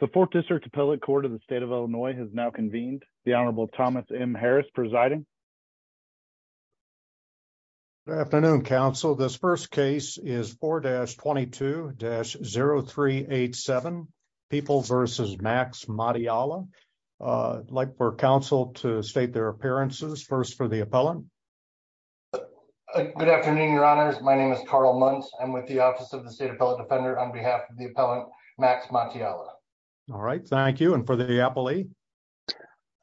The Fourth District Appellate Court of the State of Illinois has now convened. The Honorable Thomas M. Harris presiding. Good afternoon, counsel. This first case is 4-22-0387, People v. Max Matiala. I'd like for counsel to state their appearances. First for the appellant. Good afternoon, your honors. My name is Carl Muntz. I'm with the Office of the State Appellate Defender on behalf of the appellant, Max Matiala. All right. Thank you. And for the appellee?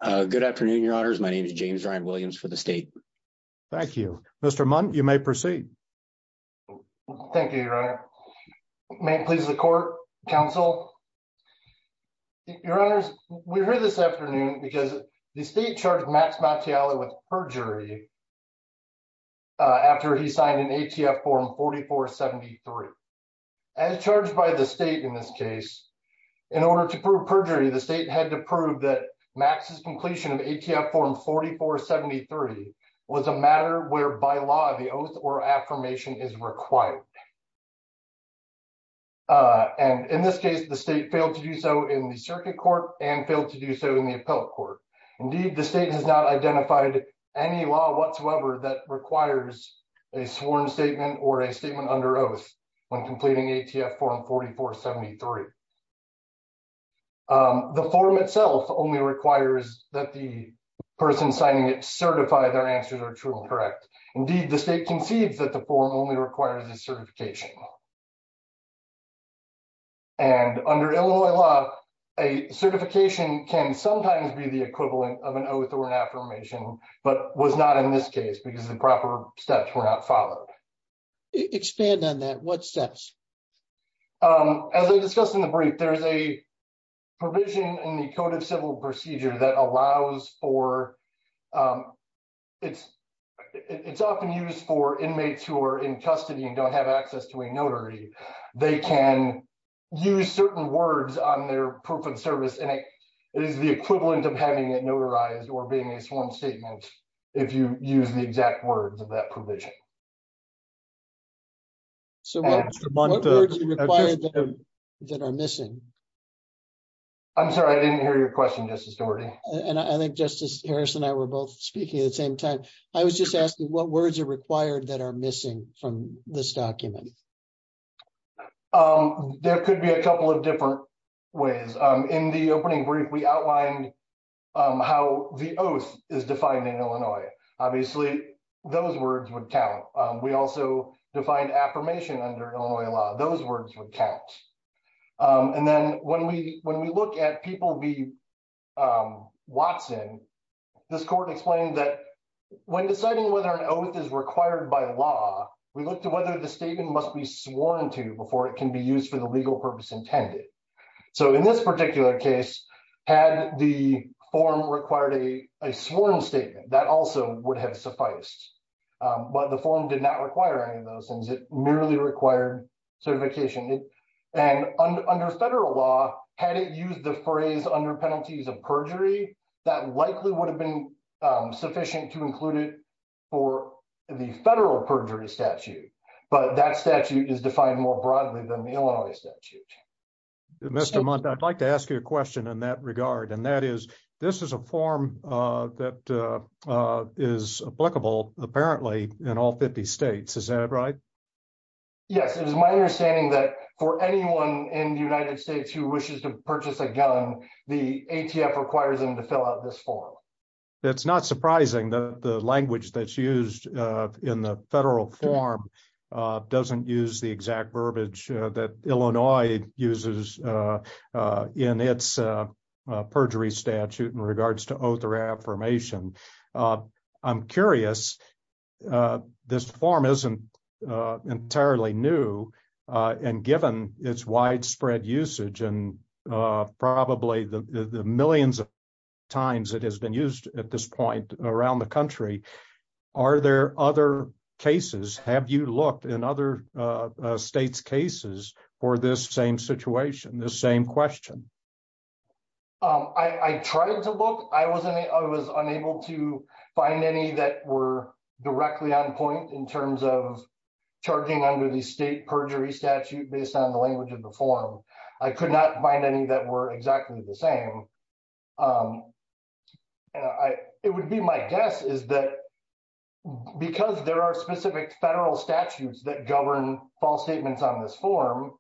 Good afternoon, your honors. My name is James Ryan Williams for the state. Thank you. Mr. Muntz, you may proceed. Thank you, your honor. May it please the court, counsel. Your honors, we're here this afternoon because the state charged Max Matiala with perjury after he signed an ATF Form 4473. As charged by the state in this case, in order to prove perjury, the state had to prove that Max's completion of ATF Form 4473 was a matter where, by law, the oath or affirmation is required. And in this case, the state failed to do so in the circuit court and failed to do so in the appellate court. Indeed, the state has not identified any law whatsoever that requires a sworn statement or a statement under oath when completing ATF Form 4473. The form itself only requires that the person signing it certify their answers are true and correct. Indeed, the state concedes that the form only requires a certification. And under Illinois law, a certification can sometimes be the equivalent of an oath or an affirmation, but was not in this case because the proper steps were not followed. Expand on that. What steps? As I discussed in the brief, there is a provision in the Code of Civil Procedure that allows for, it's often used for inmates who are in custody and don't have access to a notary. They can use certain words on their proof of service and it is the equivalent of having it notarized or being a sworn statement if you use the exact words of that provision. So what words are required that are missing? I'm sorry, I didn't hear your question, Justice Stewart. And I think Justice Harris and I were both speaking at the same time. I was just asking what words are required that are missing from this document? There could be a couple of different ways. In the opening brief, we outlined how the oath is defined in Illinois. Obviously, those words would count. We also defined affirmation under Illinois law. Those words would count. And then when we look at people v. Watson, this court explained that when deciding whether an oath is required by law, we look to whether the statement must be sworn to before it can be used for the legal purpose intended. So in this particular case, had the form required a sworn statement, that also would have sufficed. But the form did not require any of those things. It merely required certification. And under federal law, had it used the phrase under penalties of perjury, that likely would have been sufficient to include it for the federal perjury statute. But that statute is defined more broadly than the Illinois statute. Mr. Mundt, I'd like to ask you a question in that regard. And that is, this is a form that is applicable apparently in all 50 states. Is that right? Yes, it is my understanding that for anyone in the United States who wishes to purchase a gun, the ATF requires them to fill out this form. It's not surprising that the language that's used in the federal form doesn't use the exact verbiage that Illinois uses in its perjury statute in regards to oath or affirmation. I'm curious, this form isn't entirely new, and given its widespread usage and probably the millions of times it has been used at this point around the country, are there other cases, have you looked in other states' cases for this same situation, this same question? I tried to look. I was unable to find any that were directly on point in terms of charging under the state perjury statute based on the language of the form. I could not find any that were exactly the same. It would be my guess is that because there are specific federal statutes that govern false statements on this form,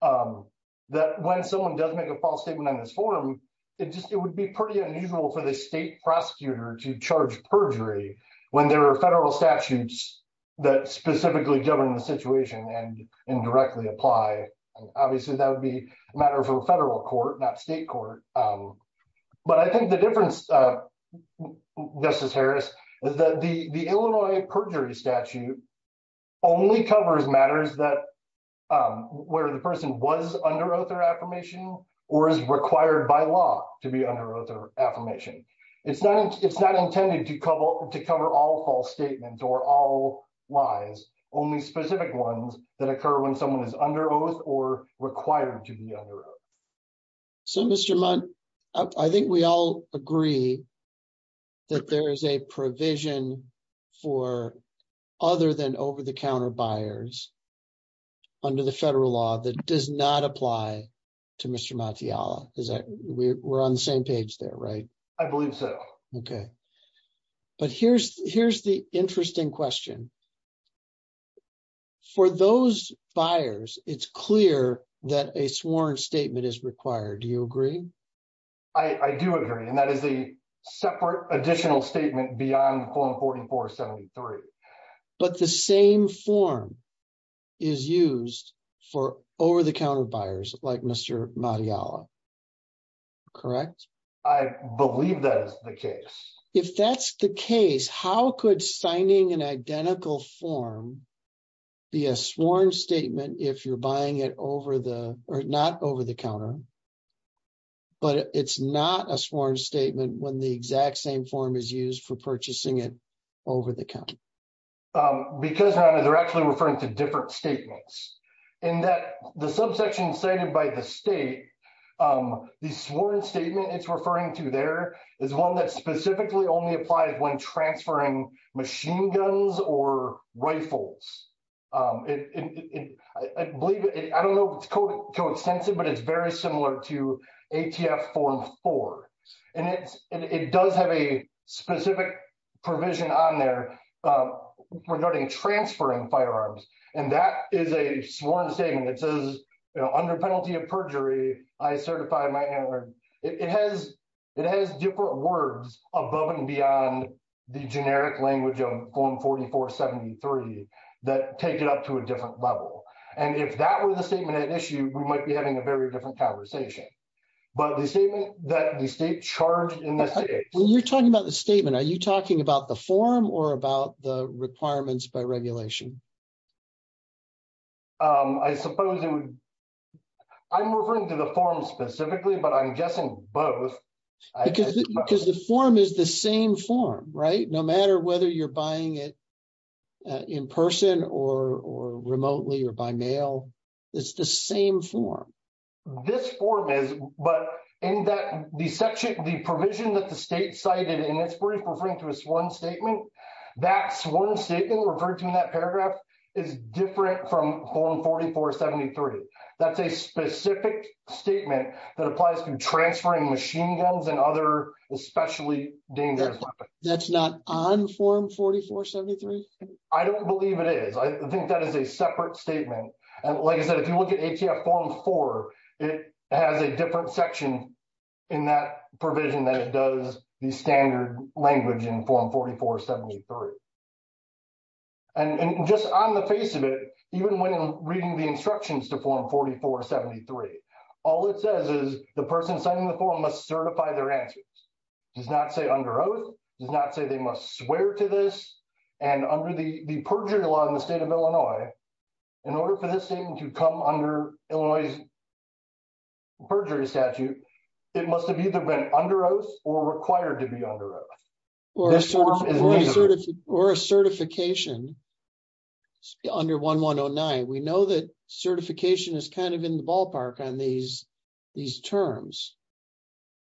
that when someone does make a false statement on this form, it would be pretty unusual for the state prosecutor to charge perjury when there are federal statutes that specifically govern the situation and indirectly apply. Obviously, that would be a matter for the federal court, not state court. But I think the difference, Justice Harris, is that the Illinois perjury statute only covers matters where the person was under oath or affirmation or is required by law to be under oath or affirmation. It's not intended to cover all false statements or all lies, only specific ones that occur when someone is under oath or required to be under oath. So, Mr. Mott, I think we all agree that there is a provision for other than over-the-counter buyers under the federal law that does not apply to Mr. Mattiola. We're on the same page there, right? I believe so. Okay. But here's the interesting question. For those buyers, it's clear that a sworn statement is required. Do you agree? I do agree, and that is a separate additional statement beyond the form 4473. But the same form is used for over-the-counter buyers like Mr. Mattiola. Correct? I believe that is the case. If that's the case, how could signing an identical form be a sworn statement if you're buying it not over-the-counter, but it's not a sworn statement when the exact same form is used for purchasing it over-the-counter? Because, Rhonda, they're actually referring to different statements. In the subsection cited by the state, the sworn statement it's referring to there is one that specifically only applies when transferring machine guns or rifles. I don't know if it's co-extensive, but it's very similar to ATF Form 4. And it does have a specific provision on there regarding transferring firearms. And that is a sworn statement that says, under penalty of perjury, I certify my handgun. It has different words above and beyond the generic language of Form 4473 that take it up to a different level. And if that were the statement at issue, we might be having a very different conversation. But the statement that the state charged in the state… I suppose it would… I'm referring to the form specifically, but I'm guessing both. Because the form is the same form, right? No matter whether you're buying it in person or remotely or by mail, it's the same form. This form is, but in that section, the provision that the state cited in its brief referring to a sworn statement, that sworn statement referred to in that paragraph is different from Form 4473. That's a specific statement that applies to transferring machine guns and other especially dangerous weapons. That's not on Form 4473? I don't believe it is. I think that is a separate statement. And like I said, if you look at ATF Form 4, it has a different section in that provision that it does the standard language in Form 4473. And just on the face of it, even when reading the instructions to Form 4473, all it says is the person signing the form must certify their answers. It does not say under oath. It does not say they must swear to this. And under the perjury law in the state of Illinois, in order for this thing to come under Illinois' perjury statute, it must have either been under oath or required to be under oath. Or a certification under 1109. We know that certification is kind of in the ballpark on these terms.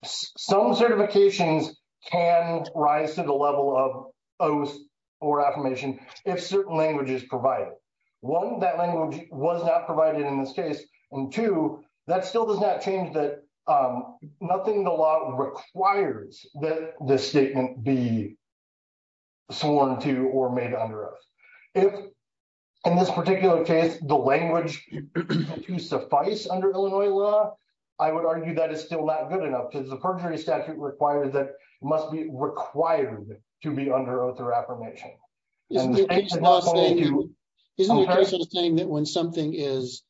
Some certifications can rise to the level of oath or affirmation if certain language is provided. One, that language was not provided in this case. And two, that still does not change that nothing in the law requires that this statement be sworn to or made under oath. If, in this particular case, the language suffice under Illinois law, I would argue that is still not good enough because the perjury statute requires that it must be required to be under oath or affirmation. Isn't the case saying that when something is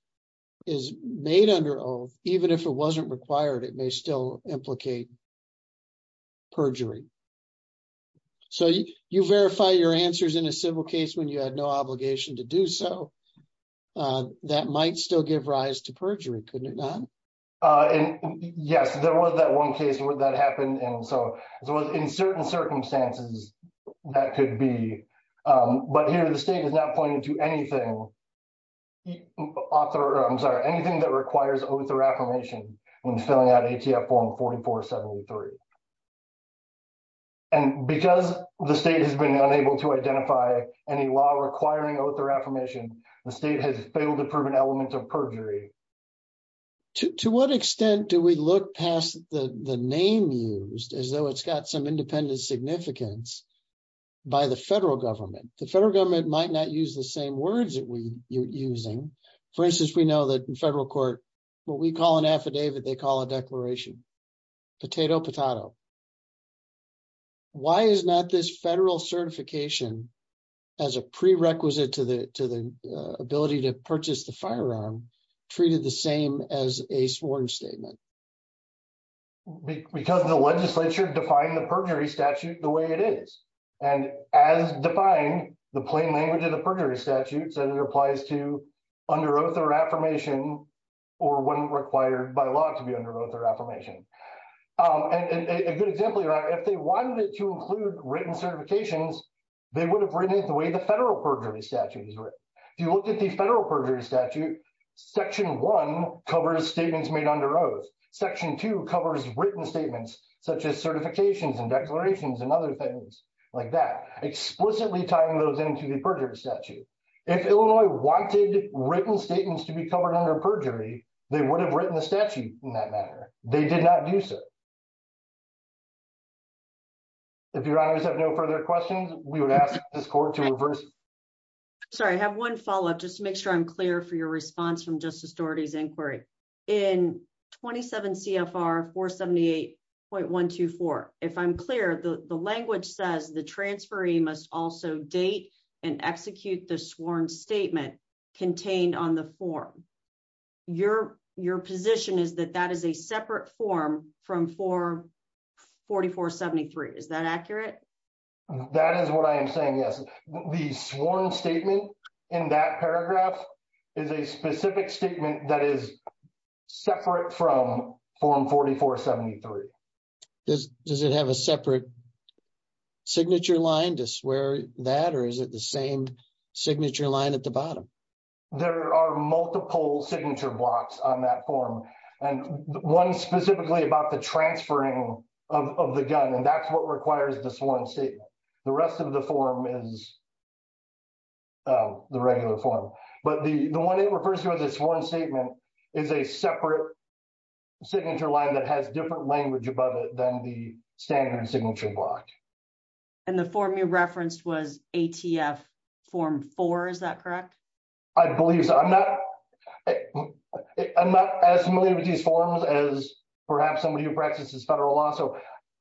made under oath, even if it wasn't required, it may still implicate perjury? So you verify your answers in a civil case when you had no obligation to do so. That might still give rise to perjury, couldn't it not? Yes, there was that one case where that happened. In certain circumstances, that could be. But here the state is not pointing to anything that requires oath or affirmation when filling out ATF form 4473. And because the state has been unable to identify any law requiring oath or affirmation, the state has failed to prove an element of perjury. To what extent do we look past the name used as though it's got some independent significance by the federal government? The federal government might not use the same words that we're using. For instance, we know that in federal court, what we call an affidavit, they call a declaration. Potato, potato. Why is not this federal certification as a prerequisite to the ability to purchase the firearm treated the same as a sworn statement? Because the legislature defined the perjury statute the way it is. And as defined, the plain language of the perjury statute said it applies to under oath or affirmation or when required by law to be under oath or affirmation. And a good example here, if they wanted it to include written certifications, they would have written it the way the federal perjury statute is written. If you look at the federal perjury statute, section one covers statements made under oath. Section two covers written statements, such as certifications and declarations and other things like that, explicitly tying those into the perjury statute. If Illinois wanted written statements to be covered under perjury, they would have written the statute in that manner. They did not do so. If your honors have no further questions, we would ask this court to reverse. Sorry, I have one follow up just to make sure I'm clear for your response from Justice Doherty's inquiry. In 27 CFR 478.124, if I'm clear, the language says the transferee must also date and execute the sworn statement contained on the form. Your position is that that is a separate form from 4473. Is that accurate? That is what I am saying, yes. The sworn statement in that paragraph is a specific statement that is separate from form 4473. Does it have a separate signature line to swear that or is it the same signature line at the bottom? There are multiple signature blocks on that form and one specifically about the transferring of the gun and that's what requires the sworn statement. The rest of the form is the regular form. But the one it refers to as a sworn statement is a separate signature line that has different language above it than the standard signature block. And the form you referenced was ATF form four, is that correct? I believe so. I'm not as familiar with these forms as perhaps somebody who practices federal law, so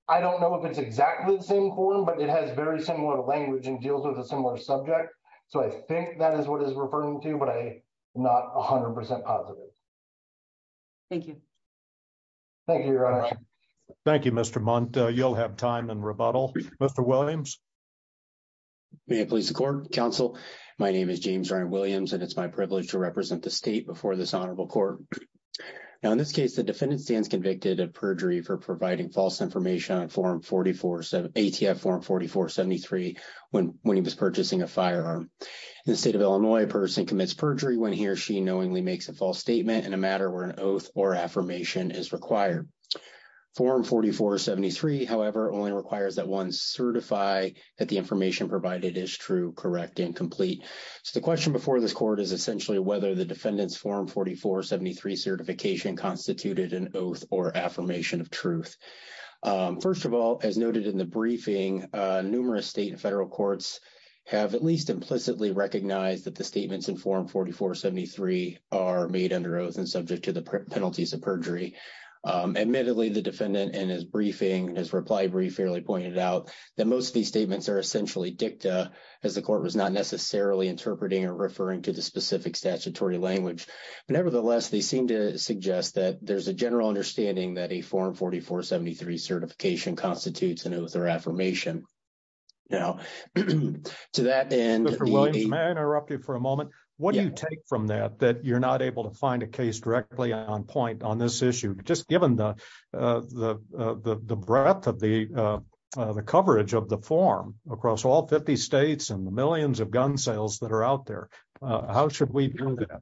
I don't know if it's exactly the same form, but it has very similar language and deals with a similar subject, so I think that is what it's referring to, but I'm not 100% positive. Thank you. Thank you, Your Honor. Thank you, Mr. Mundt. You'll have time in rebuttal. Mr. Williams. May it please the court, counsel. My name is James Ryan Williams, and it's my privilege to represent the state before this honorable court. Now, in this case, the defendant stands convicted of perjury for providing false information on ATF form 4473 when he was purchasing a firearm. In the state of Illinois, a person commits perjury when he or she knowingly makes a false statement in a matter where an oath or affirmation is required. Form 4473, however, only requires that one certify that the information provided is true, correct, and complete. So the question before this court is essentially whether the defendant's form 4473 certification constituted an oath or affirmation of truth. First of all, as noted in the briefing, numerous state and federal courts have at least implicitly recognized that the statements in form 4473 are made under oath and subject to the penalties of perjury. Admittedly, the defendant in his briefing, his reply brief fairly pointed out that most of these statements are essentially dicta as the court was not necessarily interpreting or referring to the specific statutory language. Nevertheless, they seem to suggest that there's a general understanding that a form 4473 certification constitutes an oath or affirmation. Now, to that end. Mr. Williams, may I interrupt you for a moment? What do you take from that, that you're not able to find a case directly on point on this issue? Just given the breadth of the coverage of the form across all 50 states and the millions of gun sales that are out there, how should we do that?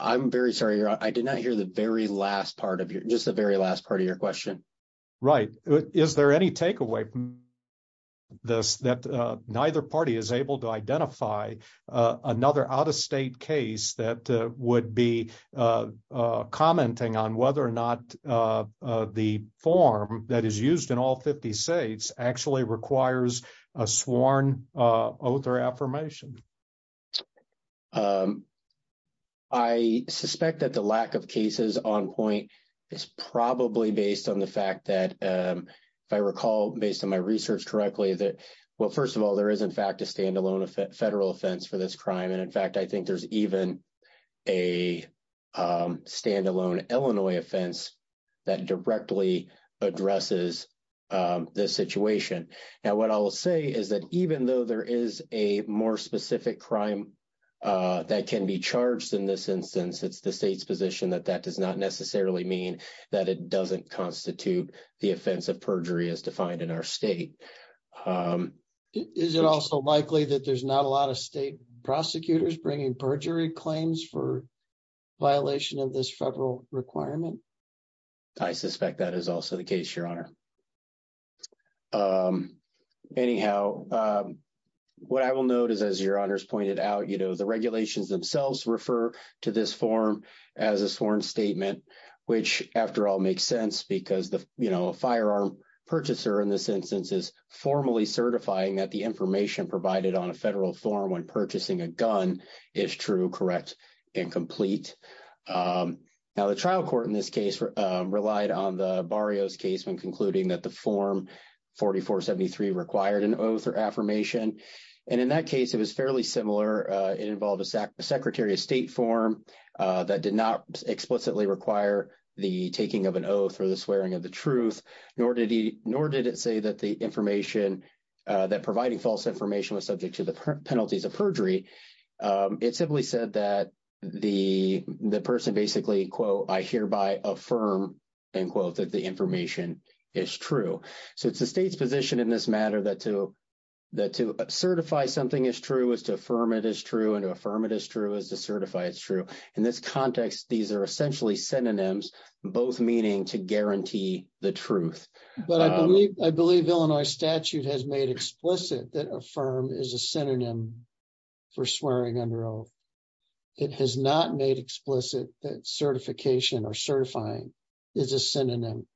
I'm very sorry. I did not hear the very last part of your, just the very last part of your question. Right. Is there any takeaway from this that neither party is able to identify another out of state case that would be commenting on whether or not the form that is used in all 50 states actually requires a sworn oath or affirmation? I suspect that the lack of cases on point is probably based on the fact that, if I recall, based on my research correctly, that, well, first of all, there is, in fact, a stand-alone federal offense for this crime. And, in fact, I think there's even a stand-alone Illinois offense that directly addresses this situation. Now, what I'll say is that even though there is a more specific crime that can be charged in this instance, it's the state's position that that does not necessarily mean that it doesn't constitute the offense of perjury as defined in our state. Is it also likely that there's not a lot of state prosecutors bringing perjury claims for violation of this federal requirement? I suspect that is also the case, Your Honor. Anyhow, what I will note is, as Your Honor has pointed out, you know, the regulations themselves refer to this form as a sworn statement, which, after all, makes sense because, you know, a firearm purchaser in this instance is formally certifying that the information provided on a federal form when purchasing a gun is true, correct, and complete. Now, the trial court in this case relied on the Barrios case when concluding that the Form 4473 required an oath or affirmation. And in that case, it was fairly similar. It involved a Secretary of State form that did not explicitly require the taking of an oath or the swearing of the truth, nor did it say that the information, that providing false information was subject to the penalties of perjury. It simply said that the person basically, quote, I hereby affirm, end quote, that the information is true. So it's the state's position in this matter that to certify something is true is to affirm it is true and to affirm it is true is to certify it's true. In this context, these are essentially synonyms, both meaning to guarantee the truth. But I believe Illinois statute has made explicit that affirm is a synonym for swearing under oath. It has not made explicit that certification or certifying is a synonym.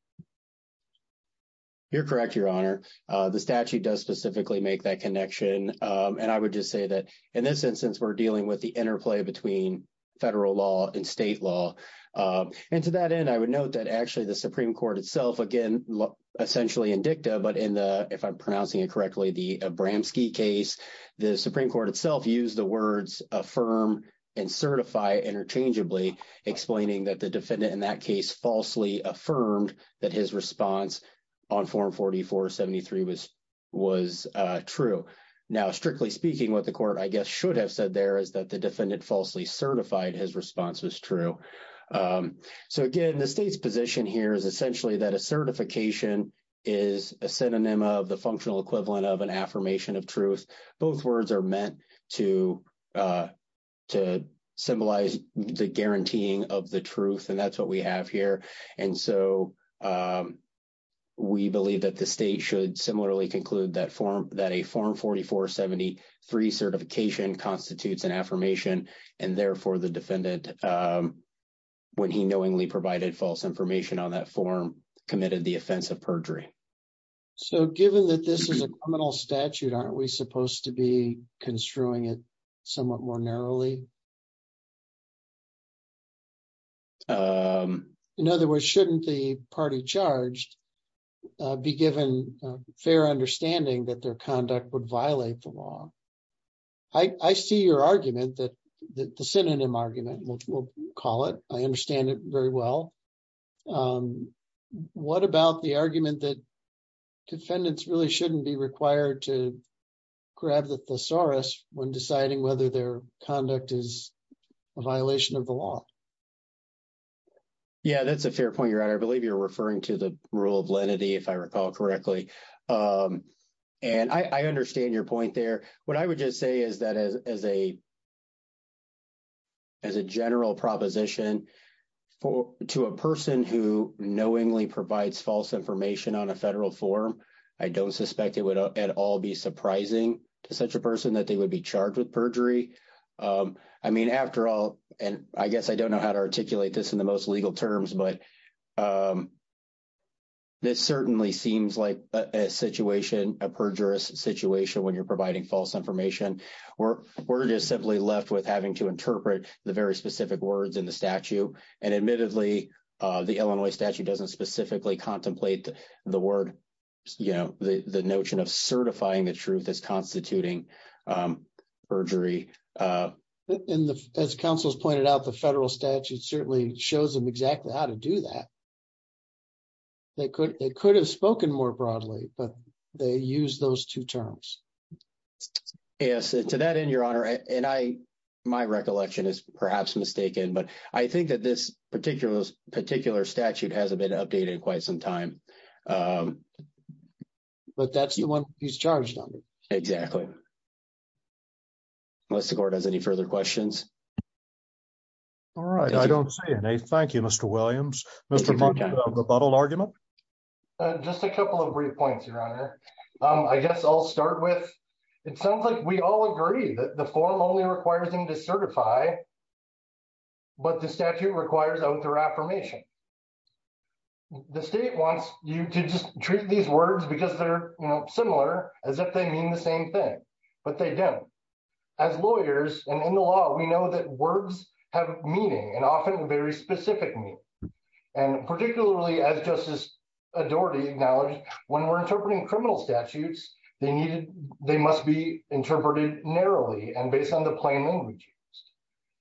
You're correct, Your Honor. The statute does specifically make that connection. And I would just say that in this instance, we're dealing with the interplay between federal law and state law. And to that end, I would note that actually the Supreme Court itself, again, essentially in dicta, but in the, if I'm pronouncing it correctly, the Abramski case, the Supreme Court itself used the words affirm and certify interchangeably, explaining that the defendant in that case falsely affirmed that his response on Form 4473 was true. So now, strictly speaking, what the court, I guess, should have said there is that the defendant falsely certified his response was true. So, again, the state's position here is essentially that a certification is a synonym of the functional equivalent of an affirmation of truth. Both words are meant to symbolize the guaranteeing of the truth, and that's what we have here. And so we believe that the state should similarly conclude that a Form 4473 certification constitutes an affirmation, and therefore the defendant, when he knowingly provided false information on that form, committed the offense of perjury. So given that this is a criminal statute, aren't we supposed to be construing it somewhat more narrowly? In other words, shouldn't the party charged be given fair understanding that their conduct would violate the law? I see your argument, the synonym argument, we'll call it. I understand it very well. What about the argument that defendants really shouldn't be required to grab the thesaurus when deciding whether their conduct is a violation of the law? Yeah, that's a fair point. I believe you're referring to the rule of lenity, if I recall correctly. And I understand your point there. What I would just say is that as a general proposition to a person who knowingly provides false information on a federal form, I don't suspect it would at all be surprising to such a person that they would be charged with perjury. I mean, after all, and I guess I don't know how to articulate this in the most legal terms, but this certainly seems like a situation, a perjurous situation when you're providing false information. We're just simply left with having to interpret the very specific words in the statute. And admittedly, the Illinois statute doesn't specifically contemplate the word, you know, the notion of certifying the truth as constituting perjury. As counsel has pointed out, the federal statute certainly shows them exactly how to do that. They could have spoken more broadly, but they use those two terms. Yes, to that end, Your Honor, and my recollection is perhaps mistaken, but I think that this particular statute hasn't been updated in quite some time. But that's the one he's charged on. Exactly. Unless the court has any further questions. All right, I don't see any. Thank you, Mr. Williams. Mr. Monk, do you have a rebuttal argument? Just a couple of brief points, Your Honor. I guess I'll start with, it sounds like we all agree that the form only requires them to certify, but the statute requires out their affirmation. The state wants you to just treat these words because they're similar, as if they mean the same thing, but they don't. As lawyers, and in the law, we know that words have meaning, and often very specific meaning. And particularly as Justice Doherty acknowledged, when we're interpreting criminal statutes, they must be interpreted narrowly and based on the plain language.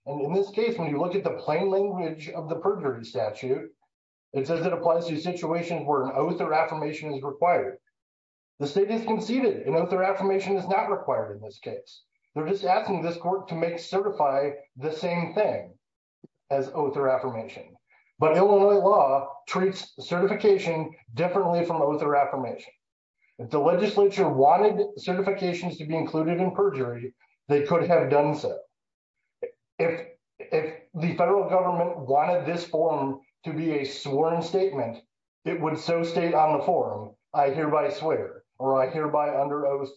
And in this case, when you look at the plain language of the perjury statute, it says it applies to situations where an oath or affirmation is required. The state has conceded an oath or affirmation is not required in this case. They're just asking this court to make certify the same thing as oath or affirmation. But Illinois law treats certification differently from oath or affirmation. If the legislature wanted certifications to be included in perjury, they could have done so. If the federal government wanted this form to be a sworn statement, it would so state on the form, I hereby swear, or I hereby under oath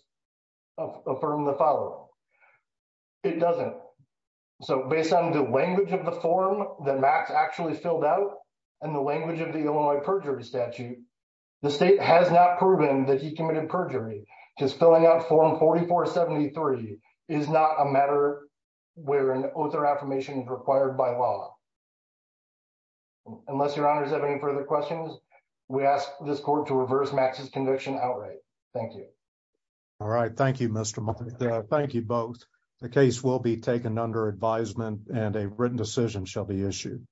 affirm the following. It doesn't. So based on the language of the form that Max actually filled out, and the language of the Illinois perjury statute, the state has not proven that he committed perjury. Because filling out form 4473 is not a matter where an oath or affirmation is required by law. Unless your honors have any further questions, we ask this court to reverse Max's conviction outright. Thank you. All right. Thank you, Mr. Martin. Thank you both. The case will be taken under advisement and a written decision shall be issued.